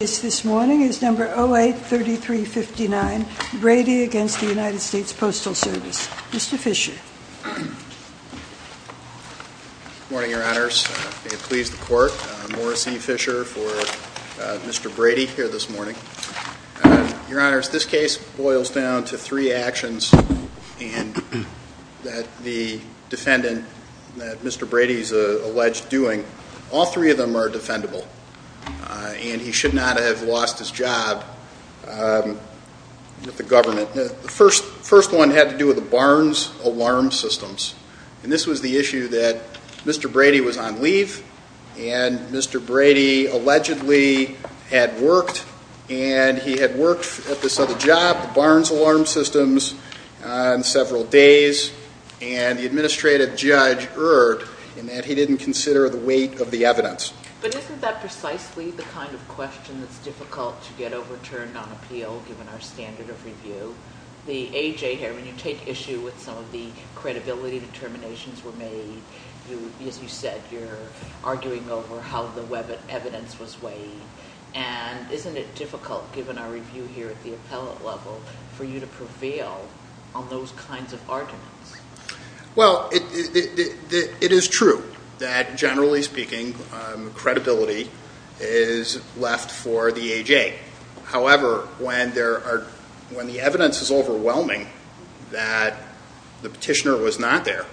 this morning is number 08-3359 Brady against the United States Postal Service. Mr. Fisher. Good morning, your honors. May it please the court, I'm Morris E. Fisher for Mr. Brady here this morning. Your honors, this case boils down to three actions and that the defendant that Mr. Brady is alleged doing, all three of them are defendable and he should not have lost his job with the government. The first one had to do with the Barnes alarm systems and this was the issue that Mr. Brady was on leave and Mr. Brady allegedly had worked and he had worked at this other job, the Barnes alarm systems, on several days and the administrative judge erred in that he didn't consider the weight of the evidence. But isn't that precisely the kind of question that's difficult to get overturned on appeal given our standard of review? The A.J. here, when you take issue with some of the credibility determinations were made, as you said, you're arguing over how the evidence was weighed and isn't it difficult given our review here at the appellate level for you to prevail on those kinds of It is true that, generally speaking, credibility is left for the A.J. However, when the evidence is overwhelming that the petitioner was not there,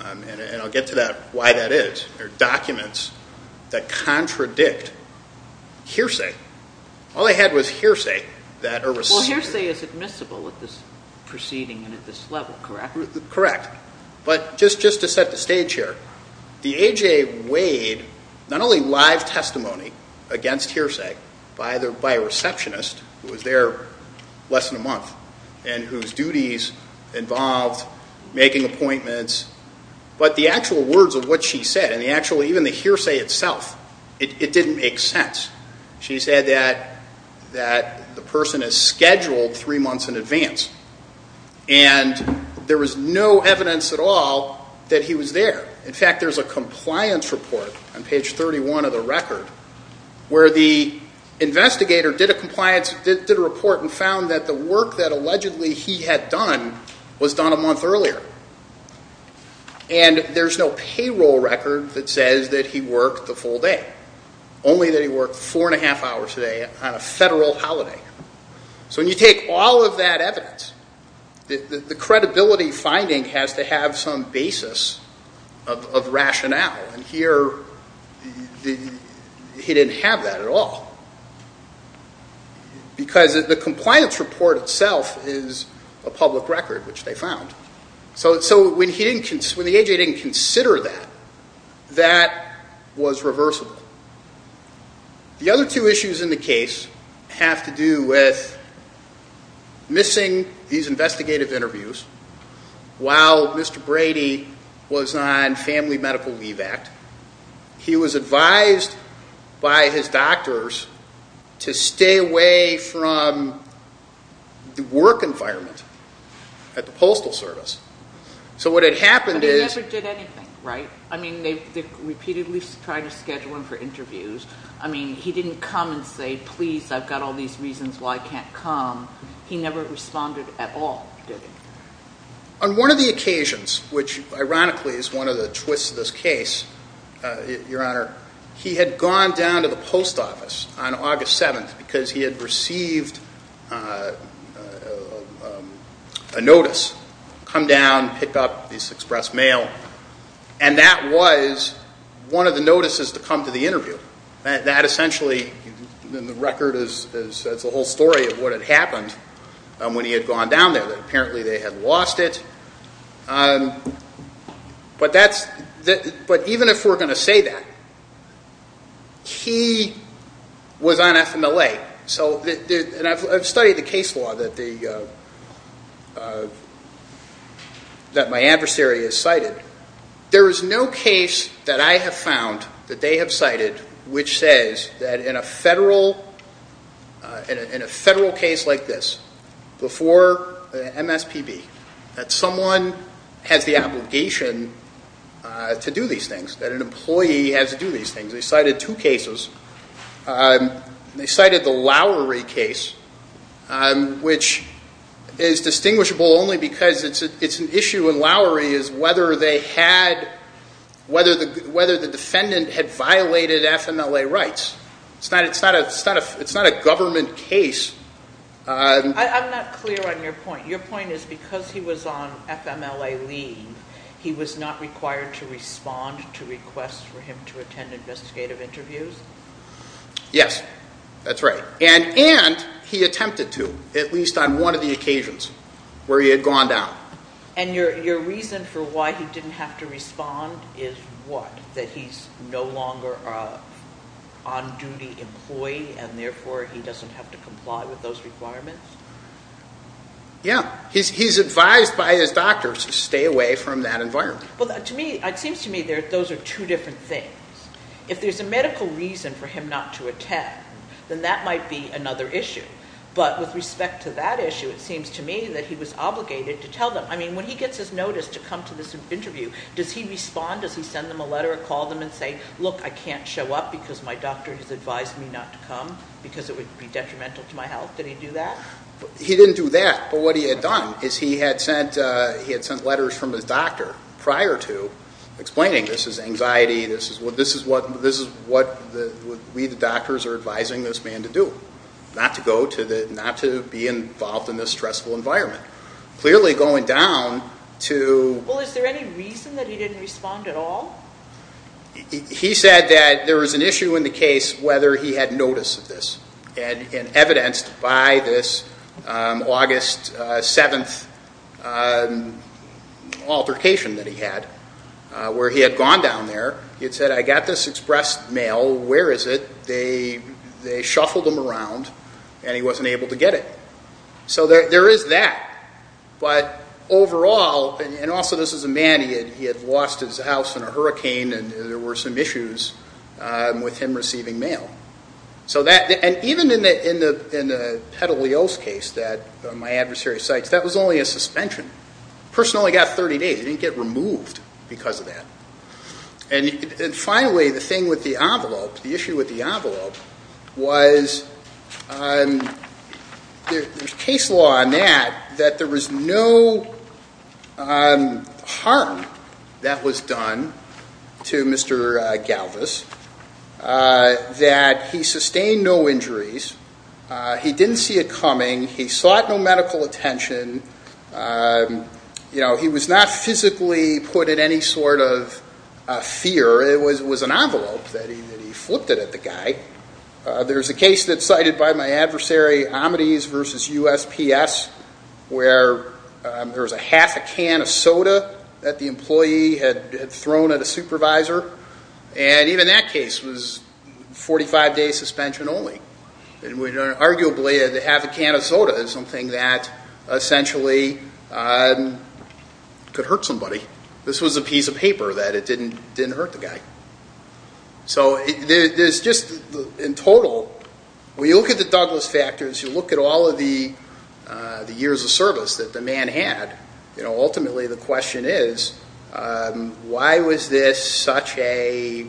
and I'll get to why that is, there are documents that contradict hearsay. All they had was hearsay. Well, hearsay is admissible at this proceeding and at this level, correct? Correct, but just to set the stage here, the A.J. weighed not only live testimony against hearsay by a receptionist who was there less than a month and whose duties involved making appointments, but the actual words of what she said and even the hearsay itself, it didn't make sense. She said that the person is scheduled three months in advance and there was no evidence at all that he was there. In fact, there's a compliance report on page 31 of the record where the investigator did a compliance, did a report and found that the work that allegedly he had done was done a month earlier and there's no payroll record that says that he worked the full day, only that he worked four and a half hours. So when you take all of that evidence, the credibility finding has to have some basis of rationale and here he didn't have that at all because the compliance report itself is a public record, which they found. So when the A.J. didn't consider that, that was reversible. The other two issues in the case have to do with missing these investigative interviews while Mr. Brady was on Family Medical Leave Act. He was advised by his doctors to stay away from the work environment at the Postal Service. So what had happened is... I mean, he didn't come and say, please, I've got all these reasons why I can't come. He never responded at all, did he? On one of the occasions, which ironically is one of the twists of this case, Your Honor, he had gone down to the post office on August 7th because he had received a notice, come down, pick up this express mail, and that was one of the notices to come to the interview. That essentially, in the record, is the whole story of what had happened when he had gone down there. Apparently they had lost it. But even if we're going to say that, he was on Family Medical Leave Act. I've studied the case law that my adversary has cited. There is no case that I have found that they have cited which says that in a federal case like this, before MSPB, that someone has the obligation to do these things, that an employee has to do these things. They cited the Lowery case, which is distinguishable only because it's an issue in Lowery, is whether they had, whether the defendant had violated FMLA rights. It's not a government case. I'm not clear on your point. Your point is because he was on FMLA leave, he was not required to attend. That's right. And he attempted to, at least on one of the occasions where he had gone down. And your reason for why he didn't have to respond is what? That he's no longer an on-duty employee and therefore he doesn't have to comply with those requirements? Yeah. He's advised by his doctors to stay away from that environment. Well, to me, it seems to me that those are two different things. If there's a medical reason for him not to attend, then that might be another issue. But with respect to that issue, it seems to me that he was obligated to tell them. I mean, when he gets his notice to come to this interview, does he respond? Does he send them a letter or call them and say, look, I can't show up because my doctor has advised me not to come because it would be detrimental to my health? Did he do that? He didn't do that. But what he had done is he had sent letters from his doctor prior to explaining this is anxiety, this is what we the doctors are advising this man to do. Not to go to the, not to be involved in this stressful environment. Clearly going down to... Well, is there any reason that he didn't respond at all? He said that there was an issue in the case whether he had notice of this. And evidenced by this August 7th altercation that he had, where he had gone down there, he had said, I got this express mail, where is it? They shuffled them around and he wasn't able to get it. So there is that. But overall, and also this is a man who had lost his house in a hurricane and there were some issues with him receiving mail. So that, and even in the Petalios case that my adversary cites, that was only a suspension. The person only got 30 days. He didn't get removed because of that. And finally, the thing with the envelope, the issue with the envelope was there is case law on that, that there was no harm that was done to Mr. Galvis. That he sustained no injuries. He didn't see it coming. He sought no medical attention. You know, he was not physically put in any sort of fear. It was an envelope that he flipped it at the guy. There's a case that's cited by my adversary, Omedes v. USPS, where there was a half a can of soda that the employee had thrown at a supervisor. And even that case was 45-day suspension only. Arguably, a half a can of soda is something that essentially could hurt somebody. This was a piece of paper that it didn't hurt the guy. So there's just, in total, when you look at the Douglas factors, you look at all of the years of service that the man had, ultimately the question is, why was this such a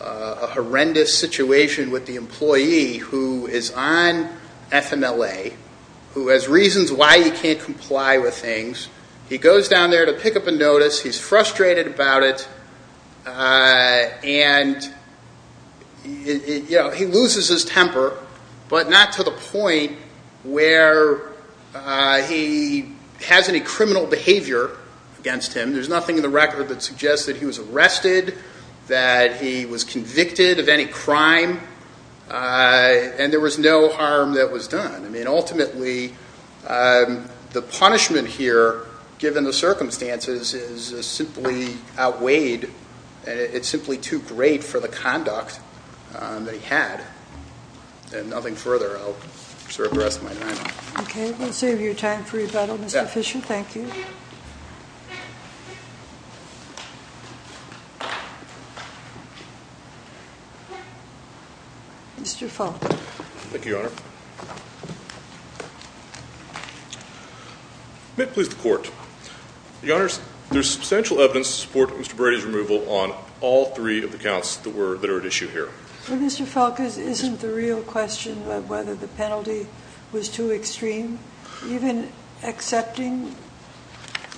horrendous situation with the employee who is on FMLA, who has reasons why he can't comply with things. He goes down there to pick up a notice. He's frustrated about it. And he loses his temper, but not to the point where he has any criminal behavior against him. There's nothing in the record that suggests that he was arrested, that he was convicted of any crime, and there was no harm that was done. Ultimately, the punishment here, given the circumstances, is simply outweighed. It's simply too great for the conduct that he had. And nothing further. I'll reserve the rest of my time. Okay, we'll save your time for rebuttal. Mr. Fisher, thank you. Mr. Falk. Thank you, Your Honor. May it please the Court. Your Honors, there's substantial evidence to support Mr. Brady's removal on all three of the counts that are at issue here. Well, Mr. Falk, isn't the real question of whether the penalty was too extreme, even accepting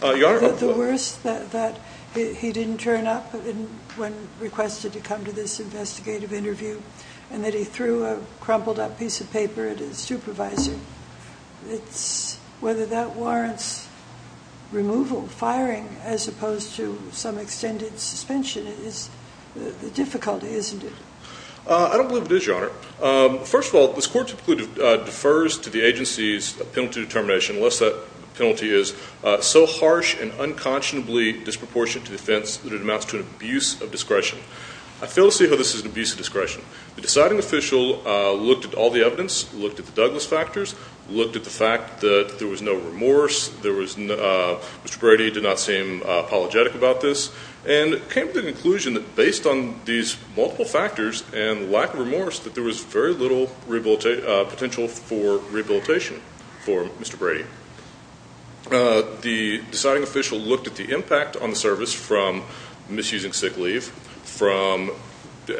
that the worst, that he didn't turn up when requested to come to this investigative interview, and that he threw a crumpled up piece of paper at his supervisor, whether that warrants removal, firing, as opposed to some extended suspension is the difficulty, isn't it? I don't believe it is, Your Honor. First of all, this Court typically defers to the agency's penalty determination, unless that penalty is so harsh and unconscionably disproportionate to defense that it amounts to an abuse of discretion. I fail to see how this is an abuse of discretion. The deciding official looked at all the evidence, looked at the Douglas factors, looked at the fact that there was no remorse, Mr. Brady did not seem apologetic about this, and came to the conclusion that based on these multiple factors and lack of remorse, that there was very little potential for rehabilitation for Mr. Brady. The deciding official looked at the impact on the service from misusing sick leave, from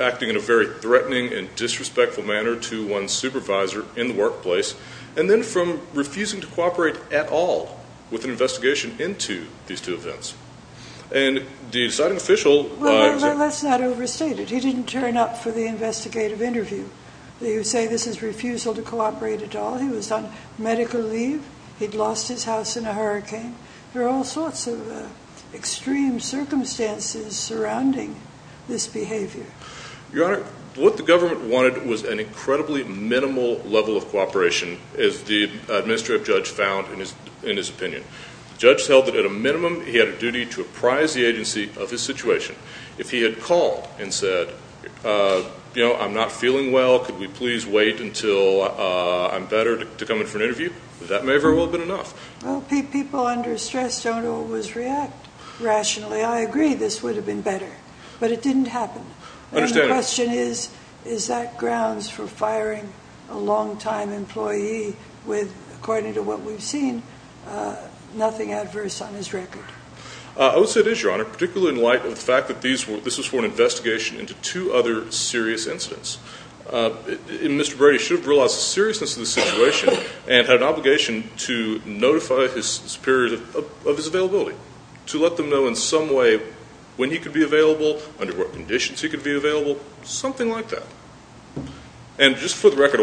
acting in a very threatening and disrespectful manner to one's supervisor in the workplace, and then from refusing to cooperate at all with an investigation into these two events. And the deciding official... Well, let's not overstate it. He didn't turn up for the investigative interview. You say this is refusal to cooperate at all. He was on medical leave. He'd lost his house in a hurricane. There are all sorts of extreme circumstances surrounding this behavior. Your Honor, what the government wanted was an incredibly minimal level of cooperation, as the administrative judge found in his opinion. The judge held that at a minimum he had a duty to apprise the agency of his situation. If he had called and said, you know, I'm not feeling well, could we please wait until I'm better to come in for an interview, that may very well have been enough. Well, people under stress don't always react rationally. I agree this would have been better, but it didn't happen. And the question is, is that grounds for firing a long-time employee with, according to what we've seen, nothing adverse on his record? I would say it is, Your Honor, particularly in light of the fact that this was for an investigation into two other serious incidents. Mr. Brady should have realized the seriousness of the situation and had an obligation to notify his superiors of his availability, to let them know in some way when he could be available, under what conditions he could be available, something like that. And just for the record,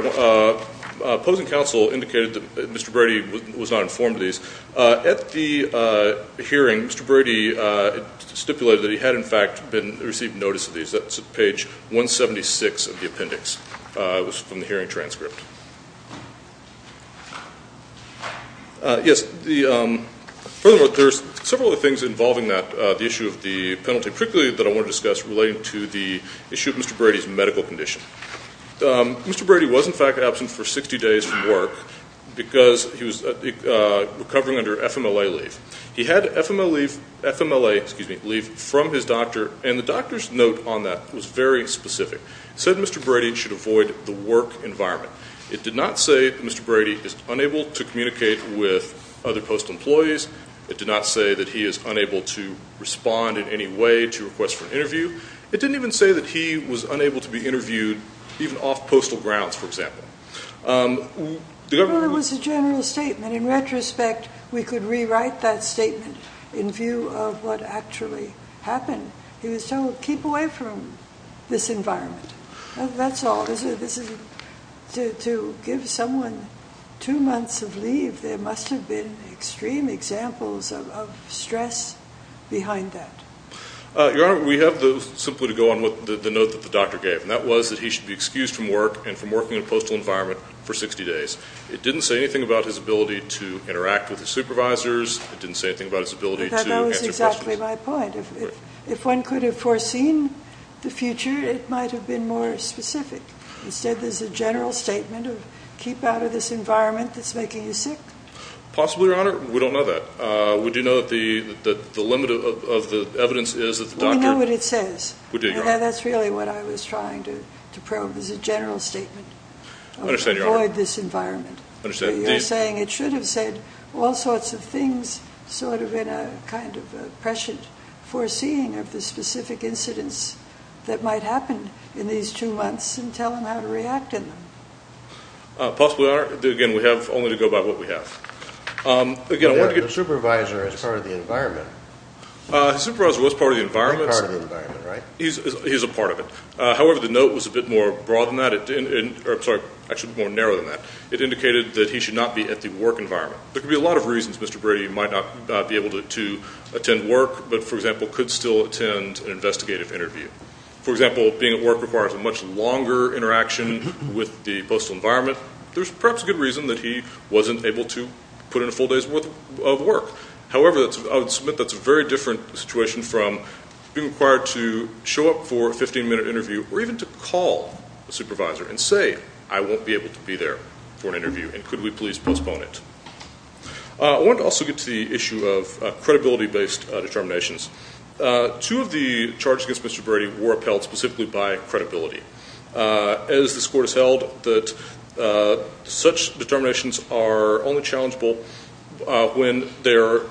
opposing counsel indicated that Mr. Brady was not informed of these. At the hearing, Mr. Brady stipulated that he had, in fact, received notice of these. That's at page 176 of the appendix. It was from the hearing transcript. Yes, furthermore, there's several other things involving that, the issue of the penalty, particularly that I want to discuss relating to the issue of Mr. Brady's medical condition. Mr. Brady was, in fact, absent for 60 days from work because he was recovering under FMLA leave. He had FMLA leave from his doctor, and the doctor's note on that was very specific. It said Mr. Brady should avoid the work environment. It did not say that Mr. Brady is unable to communicate with other postal employees. It did not say that he is unable to respond in any way to requests for an interview. It didn't even say that he was unable to be interviewed even off postal grounds, for example. Well, it was a general statement. In retrospect, we could rewrite that statement in view of what actually happened. He was told, keep away from this environment. That's all. To give someone two months of leave, there must have been extreme examples of stress behind that. Your Honor, we have simply to go on with the note that the doctor gave, and that was that he should be excused from work and from working in a postal environment for 60 days. It didn't say anything about his ability to interact with his supervisors. It didn't say anything about his ability to answer questions. That was exactly my point. If one could have foreseen the future, it might have been more specific. Instead, there's a general statement of keep out of this environment that's making you sick. Possibly, Your Honor. We don't know that. We do know that the limit of the evidence is that the doctor— We know what it says. We do, Your Honor. That's really what I was trying to probe, is a general statement. I understand, Your Honor. Avoid this environment. I understand. You're saying it should have said all sorts of things sort of in a kind of prescient foreseeing of the specific incidents that might happen in these two months and tell them how to react in them. Possibly, Your Honor. Again, we have only to go by what we have. The supervisor is part of the environment. The supervisor was part of the environment. He's part of the environment, right? He's a part of it. However, the note was a bit more broad than that. I'm sorry, actually more narrow than that. It indicated that he should not be at the work environment. There could be a lot of reasons Mr. Brady might not be able to attend work but, for example, could still attend an investigative interview. For example, being at work requires a much longer interaction with the postal environment. There's perhaps a good reason that he wasn't able to put in a full day's worth of work. However, I would submit that's a very different situation from being required to show up for a 15-minute interview or even to call the supervisor and say, I won't be able to be there for an interview and could we please postpone it. I want to also get to the issue of credibility-based determinations. Two of the charges against Mr. Brady were upheld specifically by credibility. As this court has held, such determinations are only challengeable when they are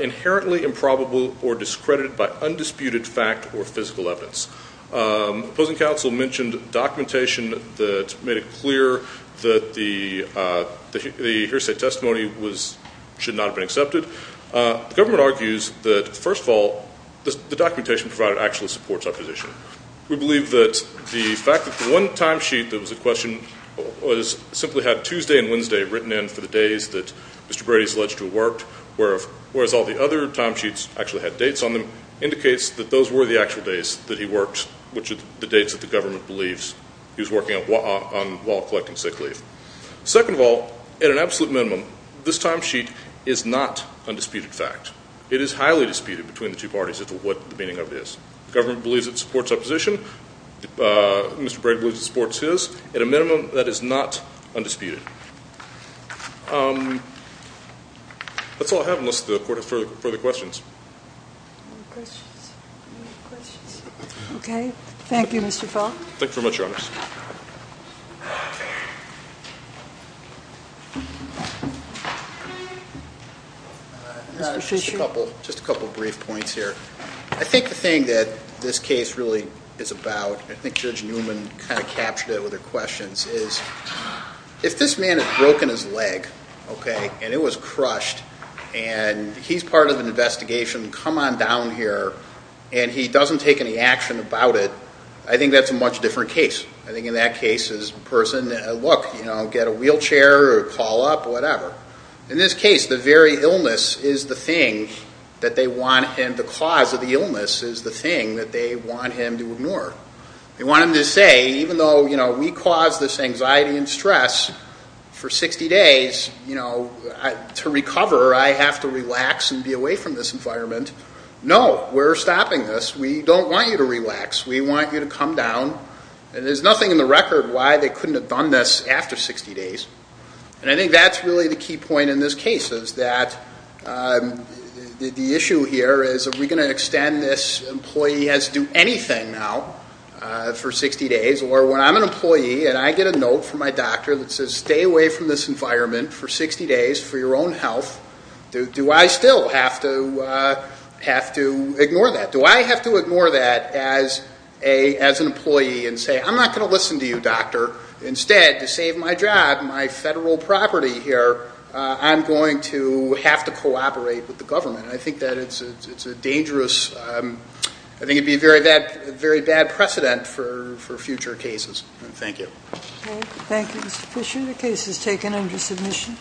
inherently improbable or discredited by undisputed fact or physical evidence. The opposing counsel mentioned documentation that made it clear that the hearsay testimony should not have been accepted. The government argues that, first of all, the documentation provided actually supports our position. We believe that the fact that the one timesheet that was in question simply had Tuesday and Wednesday written in for the days that Mr. Brady is alleged to have worked, whereas all the other timesheets actually had dates on them, indicates that those were the actual days that he worked, which are the dates that the government believes he was working on while collecting sick leave. Second of all, at an absolute minimum, this timesheet is not undisputed fact. It is highly disputed between the two parties as to what the meaning of it is. The government believes it supports our position. Mr. Brady believes it supports his. At a minimum, that is not undisputed. That's all I have unless the court has further questions. Any questions? Okay. Thank you, Mr. Falk. Thank you very much, Your Honors. Just a couple of brief points here. I think the thing that this case really is about, and I think Judge Newman kind of captured it with her questions, is if this man has broken his leg, okay, and it was crushed, and he's part of an investigation, come on down here, and he doesn't take any action about it, I think that's a much different case. I think in that case is the person, look, get a wheelchair or call up, whatever. In this case, the very illness is the thing that they want him, the cause of the illness is the thing that they want him to ignore. They want him to say, even though, you know, we caused this anxiety and stress for 60 days, you know, to recover, I have to relax and be away from this environment. No, we're stopping this. We don't want you to relax. We want you to come down. And there's nothing in the record why they couldn't have done this after 60 days. And I think that's really the key point in this case is that the issue here is, are we going to extend this employee has to do anything now for 60 days, or when I'm an employee and I get a note from my doctor that says, stay away from this environment for 60 days for your own health, do I still have to ignore that? Do I have to ignore that as an employee and say, I'm not going to listen to you, doctor. Instead, to save my job, my federal property here, I'm going to have to cooperate with the government. I think that it's a dangerous, I think it would be a very bad precedent for future cases. Thank you. Thank you, Mr. Fisher. The case is taken under submission.